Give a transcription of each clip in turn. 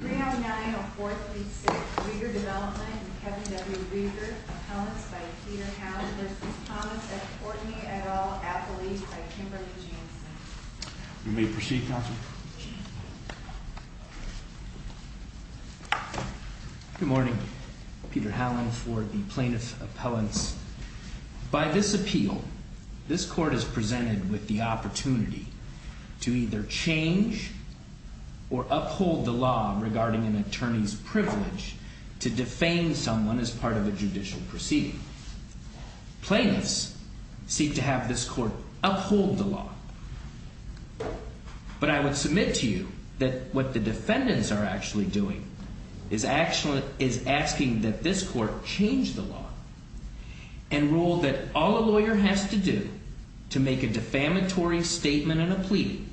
309-0436 Reger Development v. Kevin W. Reger Appellants by Peter Howland v. Thomas v. Courtney et al. Appellees by Kimberly Jameson You may proceed, Counsel. Good morning. Peter Howland for the Plaintiff Appellants. By this appeal, this Court is presented with the opportunity to either change or uphold the law regarding an attorney's privilege to defame someone as part of a judicial proceeding. Plaintiffs seek to have this Court uphold the law. But I would submit to you that what the defendants are actually doing is asking that this Court change the law and rule that all a lawyer has to do to make a defamatory statement in a pleading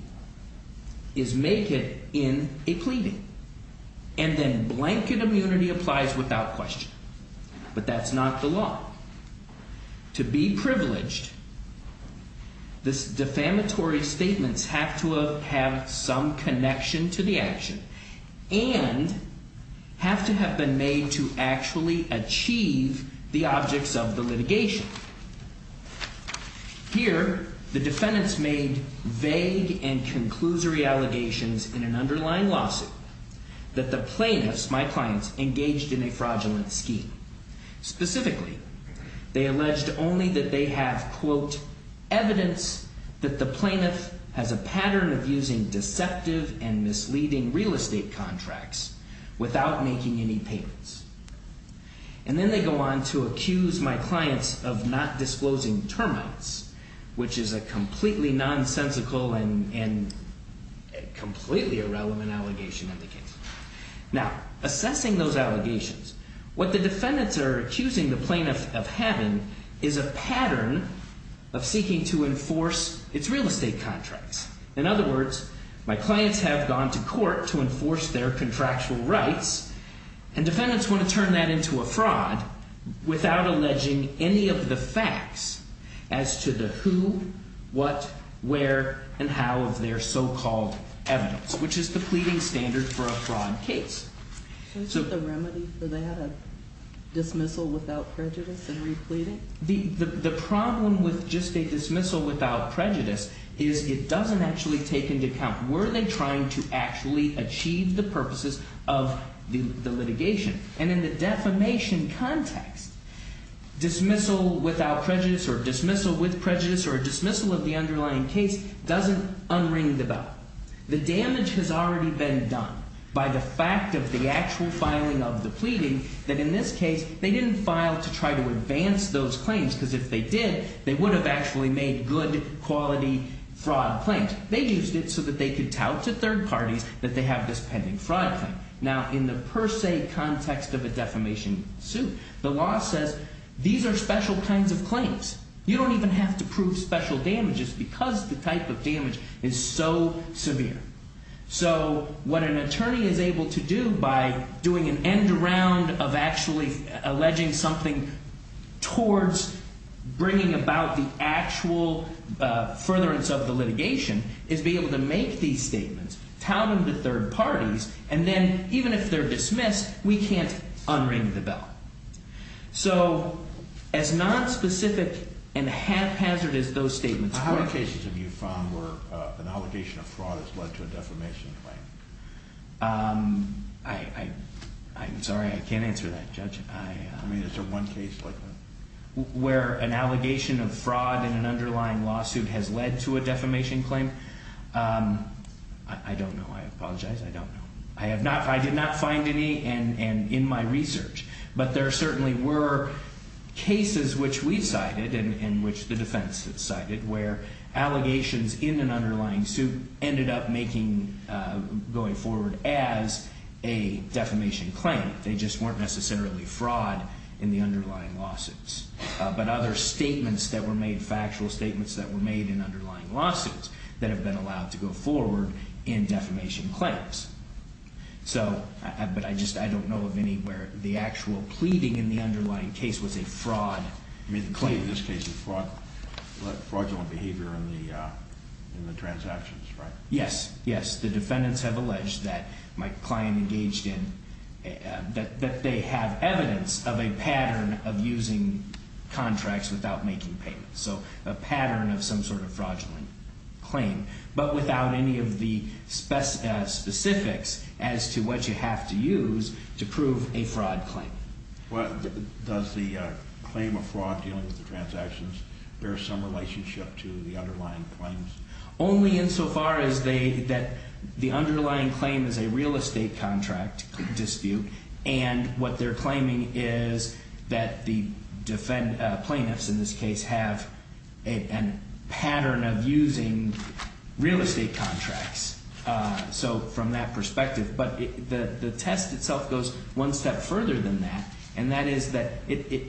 is make it in a pleading. And then blanket immunity applies without question. But that's not the law. To be privileged, this defamatory statements have to have some connection to the action and have to have been made to actually achieve the objects of the litigation. Here, the defendants made vague and conclusory allegations in an underlying lawsuit that the plaintiffs, my clients, engaged in a fraudulent scheme. Specifically, they alleged only that they have, quote, evidence that the plaintiff has a pattern of using deceptive and misleading real estate contracts without making any payments. And then they go on to accuse my clients of not disclosing termites, which is a completely nonsensical and completely irrelevant allegation in the case. Now, assessing those allegations, what the defendants are accusing the plaintiff of having is a pattern of seeking to enforce its real estate contracts. In other words, my clients have gone to court to enforce their contractual rights. And defendants want to turn that into a fraud without alleging any of the facts as to the who, what, where, and how of their so-called evidence, which is the pleading standard for a fraud case. So is there a remedy for that, a dismissal without prejudice and repleading? The problem with just a dismissal without prejudice is it doesn't actually take into account, were they trying to actually achieve the purposes of the litigation? And in the defamation context, dismissal without prejudice or dismissal with prejudice or dismissal of the underlying case doesn't unring the bell. The damage has already been done by the fact of the actual filing of the pleading that, in this case, they didn't file to try to advance those claims. Because if they did, they would have actually made good quality fraud claims. They used it so that they could tout to third parties that they have this pending fraud claim. Now, in the per se context of a defamation suit, the law says these are special kinds of claims. You don't even have to prove special damages because the type of damage is so severe. So what an attorney is able to do by doing an end round of actually alleging something towards bringing about the actual furtherance of the litigation is be able to make these statements, tout them to third parties. And then, even if they're dismissed, we can't unring the bell. So as nonspecific and haphazard as those statements are. How many cases have you found where an allegation of fraud has led to a defamation claim? I'm sorry. I can't answer that, Judge. I mean, is there one case like that? Where an allegation of fraud in an underlying lawsuit has led to a defamation claim? I don't know. I apologize. I don't know. I did not find any in my research. But there certainly were cases which we cited and which the defense has cited where allegations in an underlying suit ended up going forward as a defamation claim. They just weren't necessarily fraud in the underlying lawsuits. But other statements that were made, factual statements that were made in underlying lawsuits that have been allowed to go forward in defamation claims. So, but I just, I don't know of anywhere the actual pleading in the underlying case was a fraud claim. In this case, fraudulent behavior in the transactions, right? Yes. Yes, the defendants have alleged that my client engaged in, that they have evidence of a pattern of using contracts without making payments. So, a pattern of some sort of fraudulent claim. But without any of the specifics as to what you have to use to prove a fraud claim. Does the claim of fraud dealing with the transactions bear some relationship to the underlying claims? Only insofar as they, that the underlying claim is a real estate contract dispute. And what they're claiming is that the plaintiffs in this case have a pattern of using real estate contracts. So, from that perspective. But the test itself goes one step further than that. And that is that it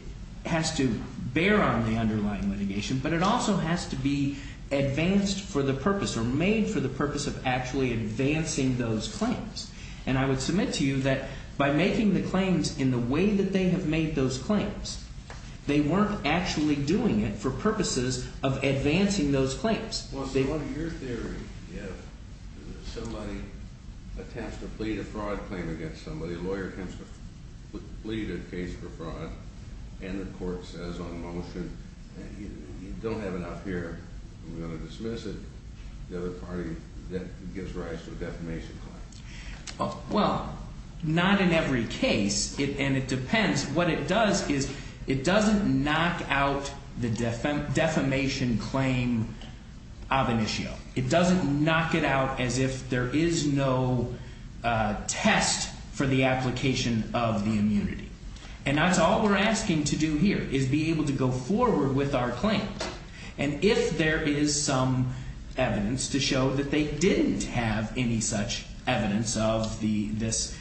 has to bear on the underlying litigation. But it also has to be advanced for the purpose or made for the purpose of actually advancing those claims. And I would submit to you that by making the claims in the way that they have made those claims. They weren't actually doing it for purposes of advancing those claims. Well, in your theory, if somebody attempts to plead a fraud claim against somebody. A lawyer attempts to plead a case for fraud. And the court says on motion, you don't have enough here. I'm going to dismiss it. The other party gives rise to a defamation claim. Well, not in every case. And it depends. What it does is it doesn't knock out the defamation claim of an issue. It doesn't knock it out as if there is no test for the application of the immunity. And that's all we're asking to do here is be able to go forward with our claim. And if there is some evidence to show that they didn't have any such evidence of this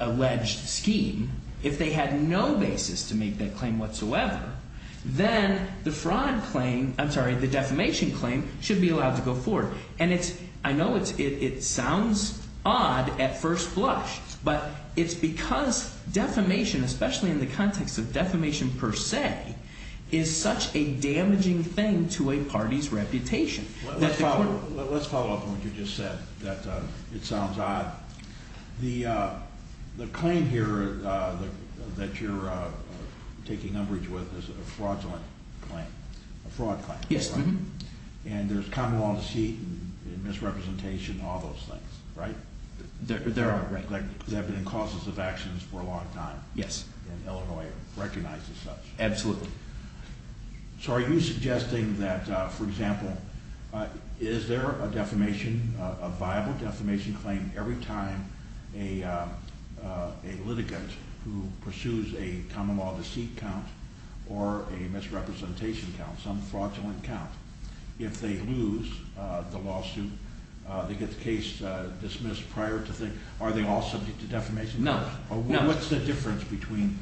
alleged scheme. If they had no basis to make that claim whatsoever. Then the defamation claim should be allowed to go forward. And I know it sounds odd at first blush. But it's because defamation, especially in the context of defamation per se, is such a damaging thing to a party's reputation. Let's follow up on what you just said. That it sounds odd. The claim here that you're taking umbrage with is a fraudulent claim. A fraud claim. Yes. And there's common law deceit and misrepresentation and all those things. Right? There are. There have been causes of actions for a long time. Yes. And Illinois recognizes such. Absolutely. So are you suggesting that, for example, is there a defamation, a viable defamation claim, every time a litigant who pursues a common law deceit count or a misrepresentation count, some fraudulent count, if they lose the lawsuit, they get the case dismissed prior to the, are they all subject to defamation? No. What's the difference between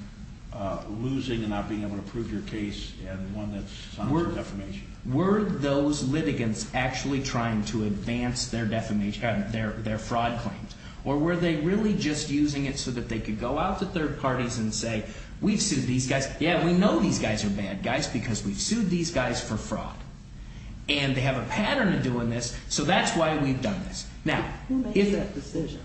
losing and not being able to prove your case and one that's subject to defamation? Were those litigants actually trying to advance their defamation, their fraud claims? Or were they really just using it so that they could go out to third parties and say, we've sued these guys. Yeah, we know these guys are bad guys because we've sued these guys for fraud. And they have a pattern of doing this. So that's why we've done this. Now, who made that decision?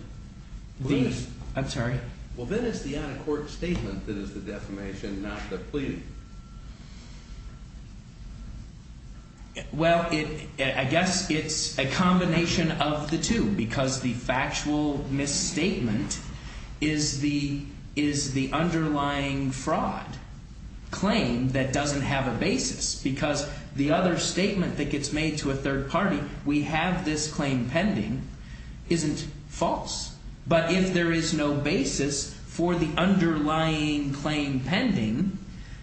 I'm sorry. Well, then it's the out-of-court statement that is the defamation, not the plea. Well, I guess it's a combination of the two because the factual misstatement is the underlying fraud claim that doesn't have a basis. Because the other statement that gets made to a third party, we have this claim pending, isn't false. But if there is no basis for the underlying claim pending,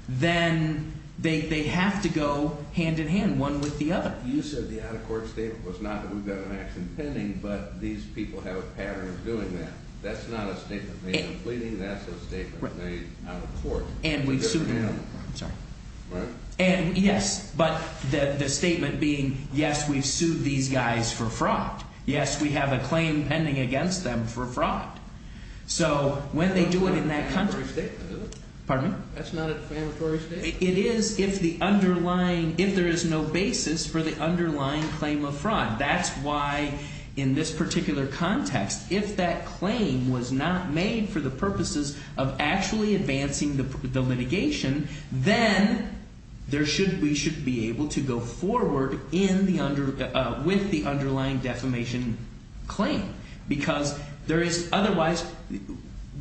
then they have to go hand-in-hand, one with the other. You said the out-of-court statement was not that we've got an action pending, but these people have a pattern of doing that. That's not a statement made in pleading. That's a statement made out of court. And we've sued them. I'm sorry. And yes, but the statement being, yes, we've sued these guys for fraud. Yes, we have a claim pending against them for fraud. So when they do it in that context. That's not a defamatory statement. Pardon me? That's not a defamatory statement. It is if the underlying, if there is no basis for the underlying claim of fraud. That's why in this particular context, if that claim was not made for the purposes of actually advancing the litigation, then we should be able to go forward with the underlying defamation claim. Because there is otherwise,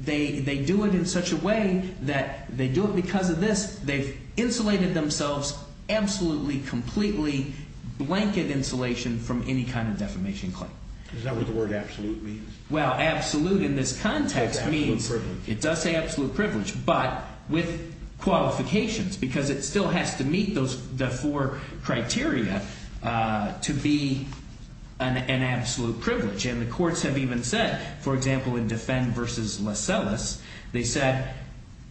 they do it in such a way that they do it because of this. They've insulated themselves absolutely, completely, blanket insulation from any kind of defamation claim. Is that what the word absolute means? Well, absolute in this context means. It does say absolute privilege. But with qualifications, because it still has to meet those four criteria to be an absolute privilege. And the courts have even said, for example, in Defend versus Lascelles, they said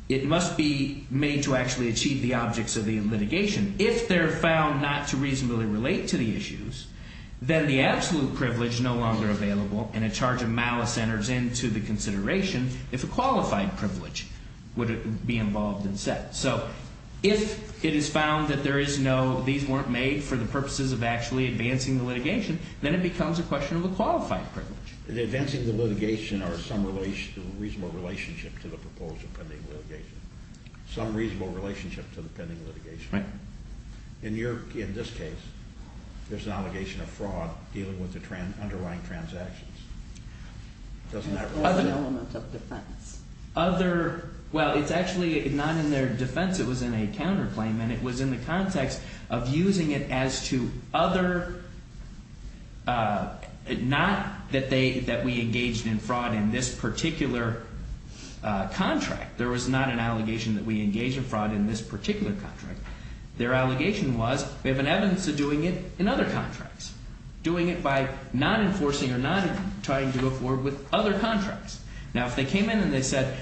it must be made to actually achieve the objects of the litigation. If they're found not to reasonably relate to the issues, then the absolute privilege is no longer available. And a charge of malice enters into the consideration if a qualified privilege would be involved instead. So if it is found that these weren't made for the purposes of actually advancing the litigation, then it becomes a question of a qualified privilege. Advancing the litigation or some reasonable relationship to the proposed or pending litigation. Some reasonable relationship to the pending litigation. Right. In this case, there's an allegation of fraud dealing with the underlying transactions. Doesn't that reflect that? Or an element of defense. Well, it's actually not in their defense. It was in a counterclaim. And it was in the context of using it as to other, not that we engaged in fraud in this particular contract. There was not an allegation that we engaged in fraud in this particular contract. Their allegation was, we have an evidence of doing it in other contracts. Doing it by not enforcing or not trying to go forward with other contracts. Now, if they came in and they said,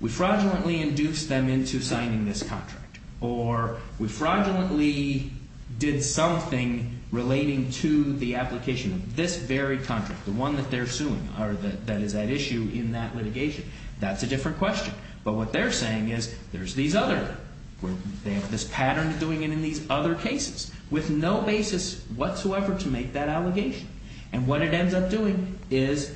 we fraudulently induced them into signing this contract. Or we fraudulently did something relating to the application of this very contract. The one that they're suing. Or that is at issue in that litigation. That's a different question. But what they're saying is, there's these other, they have this pattern of doing it in these other cases. With no basis whatsoever to make that allegation. And what it ends up doing is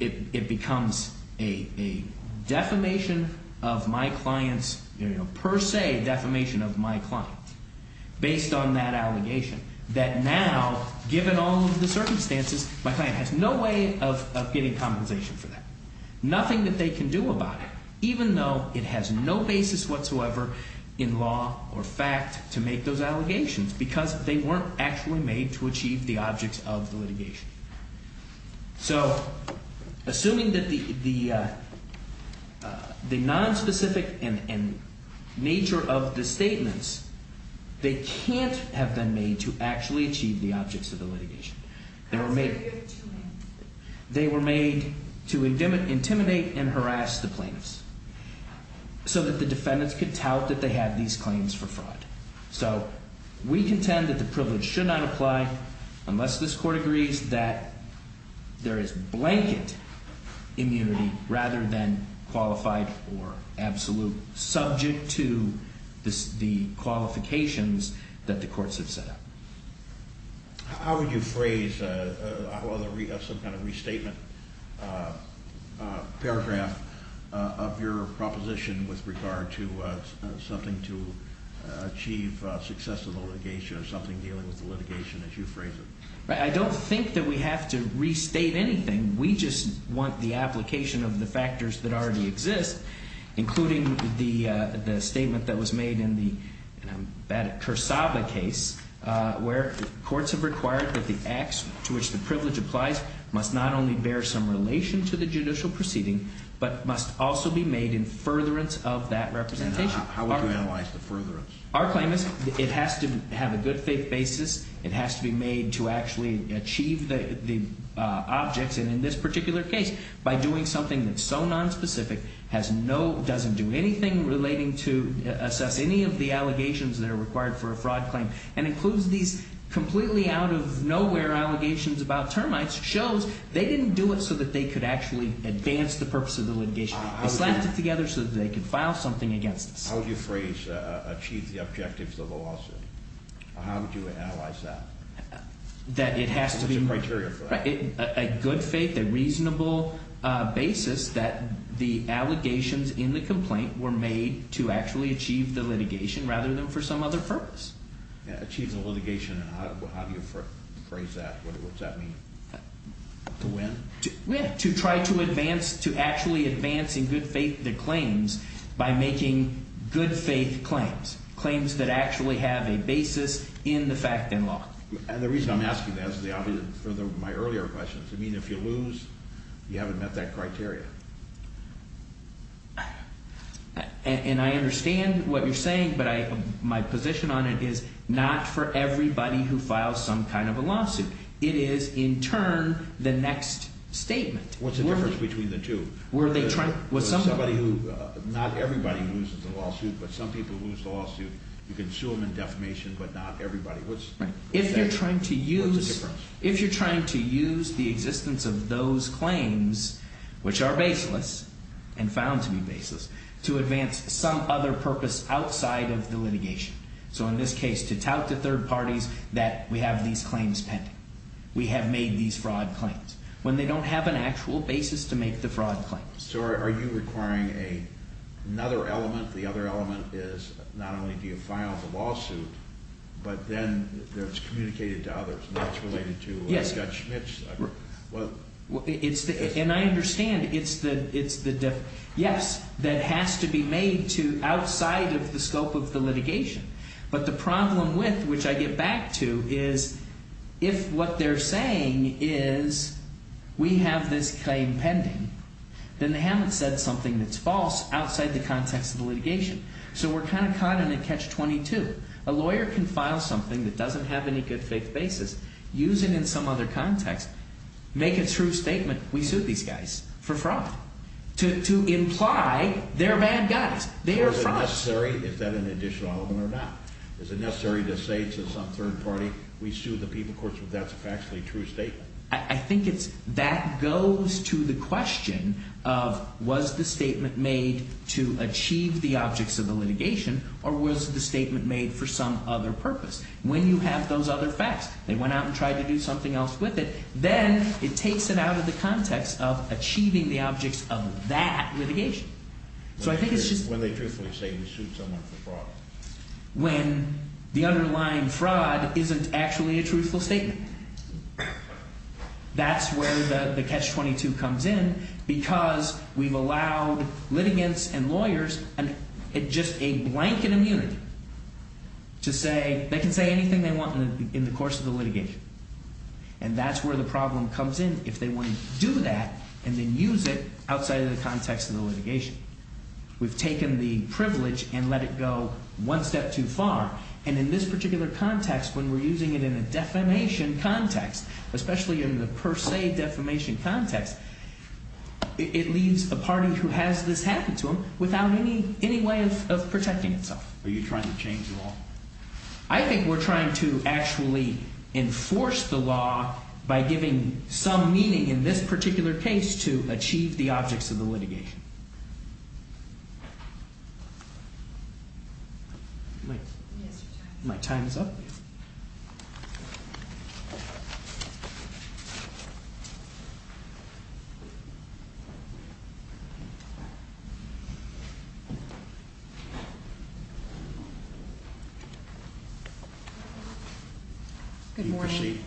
it becomes a defamation of my client's, per se defamation of my client. Based on that allegation. That now, given all of the circumstances, my client has no way of getting compensation for that. Nothing that they can do about it. Even though it has no basis whatsoever in law or fact to make those allegations. Because they weren't actually made to achieve the objects of the litigation. So, assuming that the nonspecific nature of the statements. They can't have been made to actually achieve the objects of the litigation. They were made to intimidate and harass the plaintiffs. So that the defendants could tout that they had these claims for fraud. So, we contend that the privilege should not apply. Unless this court agrees that there is blanket immunity. Rather than qualified or absolute. Subject to the qualifications that the courts have set up. How would you phrase some kind of restatement paragraph of your proposition. With regard to something to achieve success of the litigation. Or something dealing with the litigation as you phrase it. I don't think that we have to restate anything. We just want the application of the factors that already exist. Including the statement that was made in the Kursaba case. Where courts have required that the acts to which the privilege applies. Must not only bear some relation to the judicial proceeding. But must also be made in furtherance of that representation. How would you analyze the furtherance? Our claim is that it has to have a good faith basis. It has to be made to actually achieve the objects. And in this particular case. By doing something that's so nonspecific. Has no, doesn't do anything relating to. Assess any of the allegations that are required for a fraud claim. And includes these completely out of nowhere allegations about termites. Shows they didn't do it so that they could actually advance the purpose of the litigation. They slapped it together so that they could file something against us. How would you phrase achieve the objectives of the lawsuit? How would you analyze that? That it has to be. What's the criteria for that? A good faith, a reasonable basis. That the allegations in the complaint were made to actually achieve the litigation. Rather than for some other purpose. Achieve the litigation. And how do you phrase that? What does that mean? To win? To try to advance, to actually advance in good faith the claims. By making good faith claims. Claims that actually have a basis in the fact and law. And the reason I'm asking that is the obvious. For my earlier questions. You haven't met that criteria. And I understand what you're saying. But my position on it is not for everybody who files some kind of a lawsuit. It is, in turn, the next statement. What's the difference between the two? Not everybody loses a lawsuit. But some people lose the lawsuit. You can sue them in defamation. But not everybody. If you're trying to use the existence of those claims. Which are baseless. And found to be baseless. To advance some other purpose outside of the litigation. So in this case, to tout the third parties that we have these claims pending. We have made these fraud claims. When they don't have an actual basis to make the fraud claims. So are you requiring another element? The other element is not only do you file the lawsuit. But then it's communicated to others. And that's related to Judge Schmitz. And I understand. Yes, that has to be made outside of the scope of the litigation. But the problem with, which I get back to. Is if what they're saying is we have this claim pending. Then they haven't said something that's false outside the context of the litigation. So we're kind of caught in a catch-22. A lawyer can file something that doesn't have any good faith basis. Use it in some other context. Make a true statement. We sued these guys for fraud. To imply they're bad guys. They are frauds. Is that an additional element or not? Is it necessary to say to some third party. We sued the people. Of course, if that's a factually true statement. I think that goes to the question of. Was the statement made to achieve the objects of the litigation. Or was the statement made for some other purpose. When you have those other facts. They went out and tried to do something else with it. Then it takes it out of the context of achieving the objects of that litigation. So I think it's just. When they truthfully say we sued someone for fraud. When the underlying fraud isn't actually a truthful statement. That's where the catch-22 comes in. Because we've allowed litigants and lawyers. Just a blanket immunity. To say. They can say anything they want in the course of the litigation. And that's where the problem comes in. If they want to do that. And then use it outside of the context of the litigation. We've taken the privilege. And let it go one step too far. And in this particular context. When we're using it in a defamation context. Especially in the per se defamation context. It leaves a party who has this happen to them. Without any way of protecting itself. Are you trying to change the law? I think we're trying to actually enforce the law. By giving some meaning in this particular case. To achieve the objects of the litigation. My time is up. Thank you. Good morning.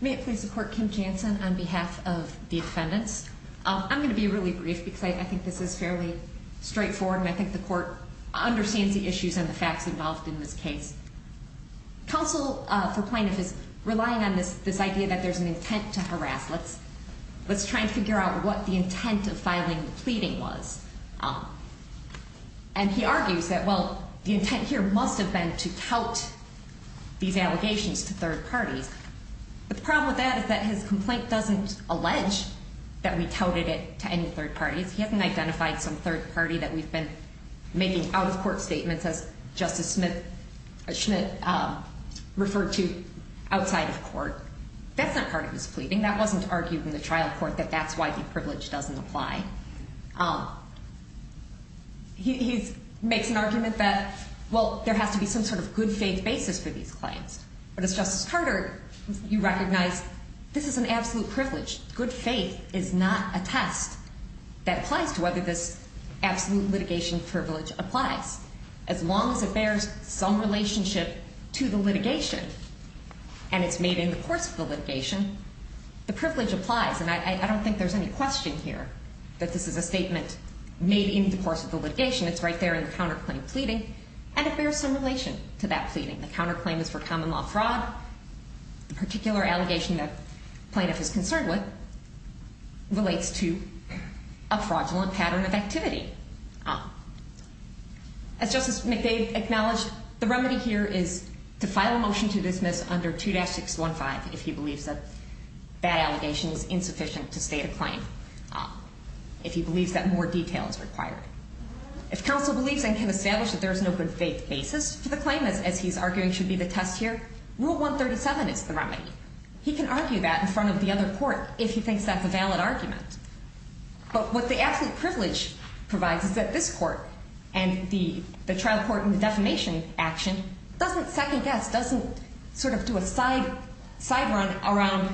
May it please the court. Kim Jansen. On behalf of the defendants. I'm going to be really brief. Because I think this is fairly straightforward. And I think the court. Understands the issues and the facts involved in this case. Counsel. For plaintiff is. Relying on this. This idea that there's an intent to harass. Let's try and figure out what the intent of filing the pleading was. And he argues that well. The intent here must have been to tout. These allegations to third parties. The problem with that. Is that his complaint doesn't allege. That we touted it to any third parties. He hasn't identified some third party. That we've been. Making out of court statements as. Justice Smith. Schmidt. Referred to. Outside of court. That's not part of his pleading. That wasn't argued in the trial court. That that's why the privilege doesn't apply. He. Makes an argument that. Well. There has to be some sort of good faith basis for these claims. But it's Justice Carter. You recognize. This is an absolute privilege. Good faith. Is not a test. That applies to whether this. Absolute litigation privilege applies. As long as it bears. Some relationship. To the litigation. And it's made in the course of the litigation. The privilege applies. And I don't think there's any question here. That this is a statement. Made in the course of the litigation. It's right there in the counterclaim pleading. And it bears some relation. To that pleading. The counterclaim is for common law fraud. The particular allegation that. Plaintiff is concerned with. Relates to. A fraudulent pattern of activity. As Justice McDade acknowledged. The remedy here is. To file a motion to dismiss under 2-615. If he believes that. That allegation is insufficient. To state a claim. If he believes that more detail is required. If counsel believes and can establish. That there is no good faith basis. For the claim as he's arguing should be the test here. Rule 137 is the remedy. He can argue that in front of the other court. If he thinks that's a valid argument. But what the absolute privilege. Provides is that this court. And the. The trial court and the defamation action. Doesn't second guess. Doesn't sort of do a side. Side run around.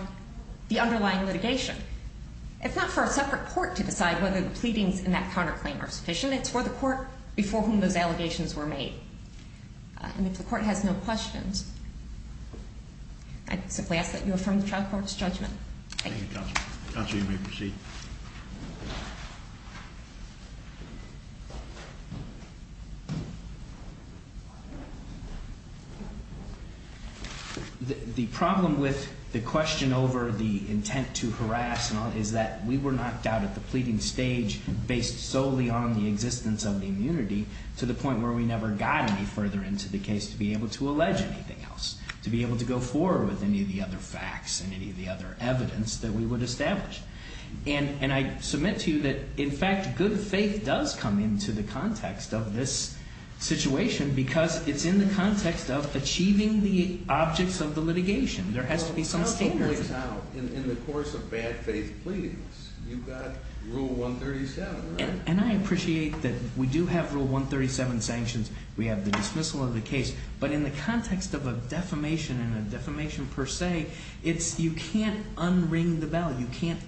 The underlying litigation. It's not for a separate court to decide. Whether the pleadings in that counterclaim are sufficient. It's for the court. Before whom those allegations were made. And if the court has no questions. I simply ask that you affirm the trial court's judgment. Thank you. You may proceed. The problem with the question over the intent to harass. Is that we were knocked out at the pleading stage. Based solely on the existence of the immunity. To the point where we never got any further into the case. To be able to allege anything else. To be able to go forward. With any of the other facts. I'm not going to. I'm not going to. I'm not going to. And I submit to you that in fact. Good faith does come into the context. Of this situation. Because it's in the context of. Achieving the objects of the litigation. There has to be some statement. In the course of bad faith pleading. You've got rule 137. And I appreciate that. We do have rule 137 sanctions. We have the dismissal of the case. But in the context of a defamation. And a defamation per se. It's you can't unring the bell. You can't undo the bell. You can't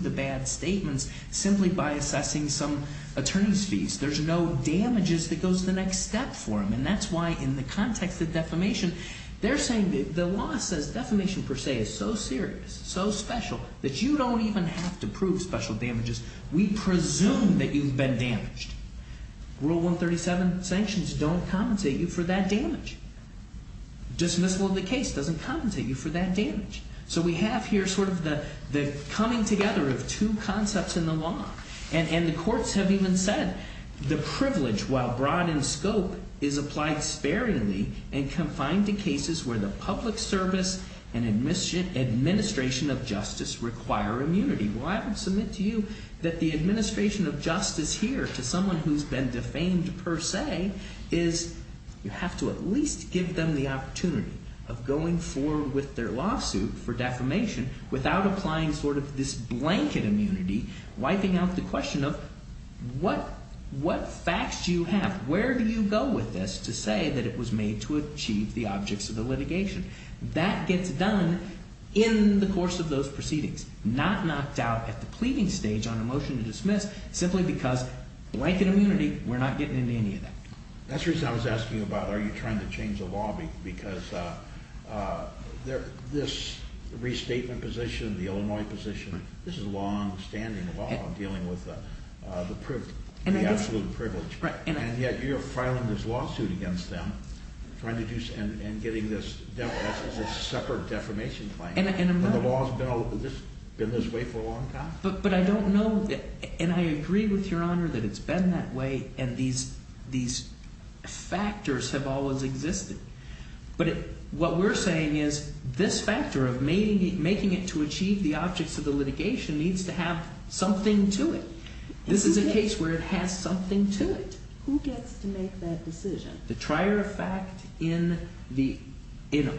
undo bad statements. Simply by assessing some attorney's fees. There's no damages. That goes to the next step for them. And that's why in the context of defamation. They're saying the law says defamation per se. Is so serious. So special. That you don't even have to prove special damages. We presume that you've been damaged. Rule 137 sanctions. Don't compensate you for that damage. Dismissal of the case. Doesn't compensate you for that damage. So we have here sort of the coming together of two concepts in the law. And the courts have even said the privilege while broad in scope is applied sparingly and confined to cases where the public service and administration of justice require immunity. Well I would submit to you that the administration of justice here to someone who's been defamed per se is you have to at least give them the opportunity of going forward with their lawsuit for defamation without applying sort of this blanket immunity wiping out the question of what facts do you have? Where do you go with this to say that it was made to achieve the objects of the litigation? That gets done in the course of those proceedings. Not knocked out at the pleading stage on a motion to dismiss simply because blanket immunity we're not getting into any of that. That's the reason I was asking about are you trying to change the law the restatement position the Illinois position this is a long standing law dealing with the absolute privilege and yet you're filing this lawsuit against them and getting this separate defamation claim when the law's been this way for a long time? But I don't know and I agree with your honor that it's been that way and these factors have always existed but what we're saying is this factor of making it to achieve the objects of the litigation needs to have something to it. This is a case where it has something to it. Who gets to make that decision? The trier of fact in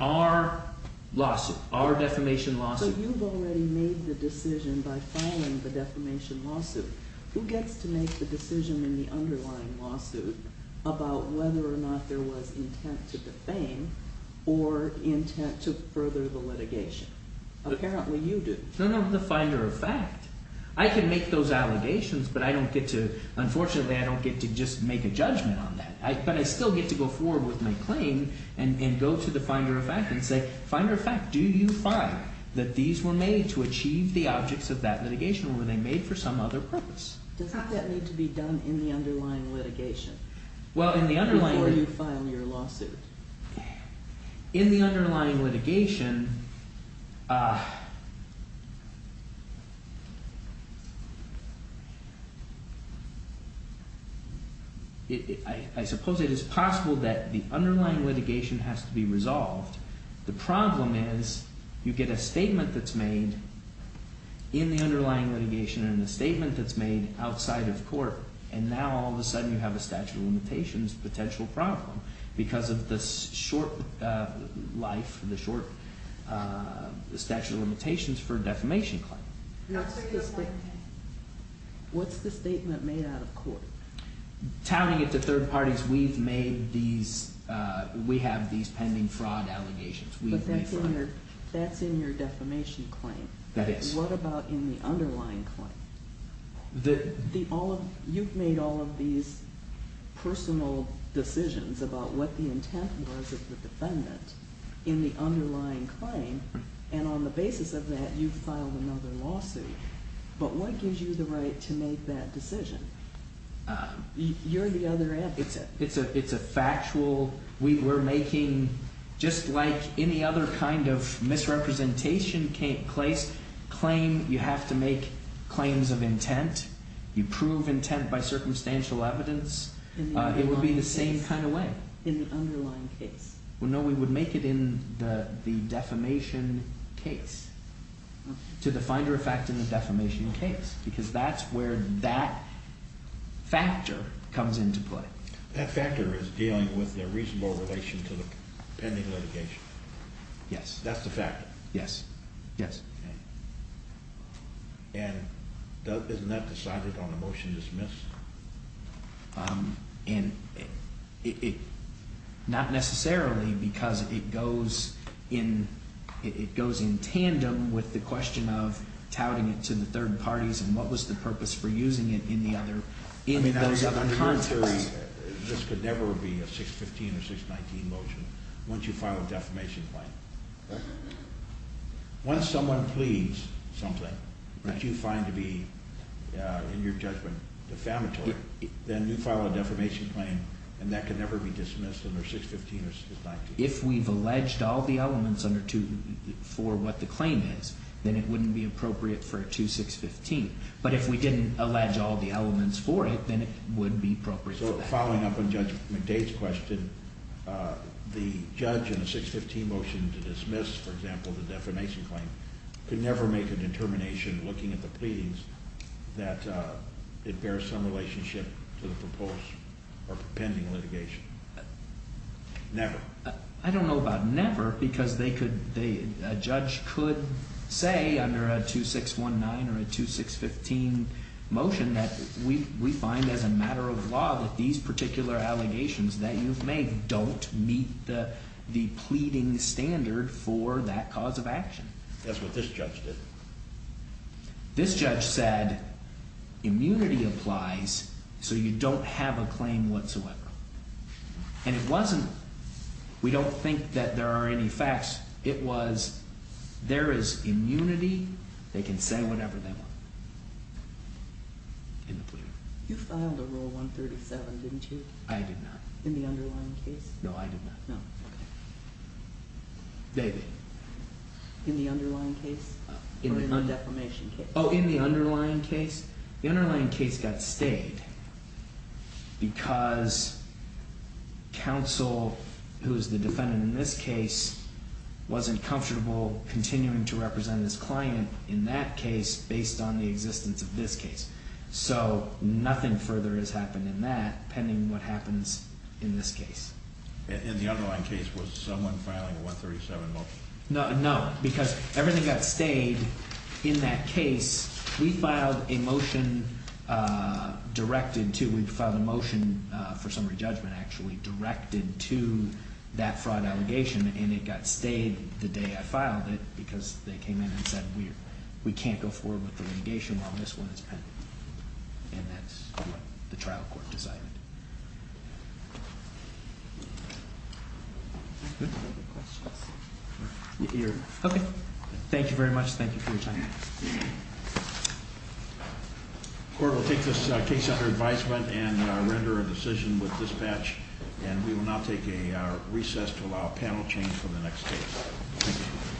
our lawsuit our defamation lawsuit. So you've already made the decision by filing the defamation lawsuit. Who gets to make the decision in the underlying lawsuit about whether or not there was intent to defame or intent to further the litigation? Apparently you do. No, no, the finder of fact. I can make those allegations but I don't get to unfortunately I don't get to just make a judgment on that but I still get to go forward with my claim and go to the finder of fact and say finder of fact do you find that these were made to achieve the objects of that litigation or were they made for some other purpose? Doesn't that need to be done in the underlying litigation before you file your lawsuit? In the underlying litigation I suppose it is possible that the underlying litigation has to be resolved. The problem is you get a statement that's made in the underlying litigation and a statement that's made in the underlying litigation and now all of a sudden you have a statute of limitations potential problem because of the short life the short statute of limitations for defamation claim. What's the statement made out of court? Tallying it to third parties we have these pending fraud allegations. That's in your defamation claim. That is. What about in the underlying claim? You've made all of these personal decisions about what the intent was of the defendant in the underlying claim and on the basis of that you've filed another lawsuit but what gives you the right to make that decision? You're the other advocate. It's a factual we're making just like any other kind of misrepresentation claim you have to make substantial evidence it would be the same kind of way. In the underlying case? No we would make it in the defamation case to the finder of fact in the defamation case because that's where that factor comes into play. That factor is dealing with the reasonable relation to the pending litigation. Yes. That's the factor. Yes. And isn't that decided on a motion to dismiss? Not necessarily because it goes in tandem with the question of touting it to the third parties and what was the purpose for using it in those other contexts. This could never be a 615 or 619 motion once you file a defamation claim. Once someone pleads something that you find to be in your judgment defamatory then you file a defamation claim and that can never be dismissed under 615 or 619. If we've alleged all the elements for what the claim is then it wouldn't be appropriate for a 2615. But if we didn't allege all the elements for it then it would be appropriate. So following up on Judge to dismiss, for example, the defamation claim could never make a determination looking at the pleadings that it bears some relationship to the proposed or pending litigation. Never. I don't know about never because a judge could say under a 2619 or a 2615 motion that we find as a matter of law that these particular allegations that you've made are not required for that cause of action. That's what this judge did. This judge said immunity applies so you don't have a claim whatsoever. And it wasn't we don't think that there are any facts. It was there is immunity. They can say whatever they want in the plea. You filed a Rule 137, didn't you? I did not. In the underlying case? Maybe. In the underlying case? Or in the defamation case? Oh, in the underlying case? The underlying case got stayed because counsel who is the defendant in this case wasn't comfortable continuing to represent his client in that case based on the existence of this case. So nothing further has happened in that pending what happens in this case. In the underlying case was someone filing a 137 motion? No, because everything got stayed in that case. We filed a motion directed to we filed a motion for summary judgment actually directed to that fraud allegation and it got stayed the day I filed it because they came in and said we can't go forward with the litigation on this one, it's pending. And that's what the trial court decided. Okay. Thank you very much. Thank you for your time. The court will take this case under advisement and render a decision with dispatch and we will now take a recess to allow panel change for the next case. Thank you.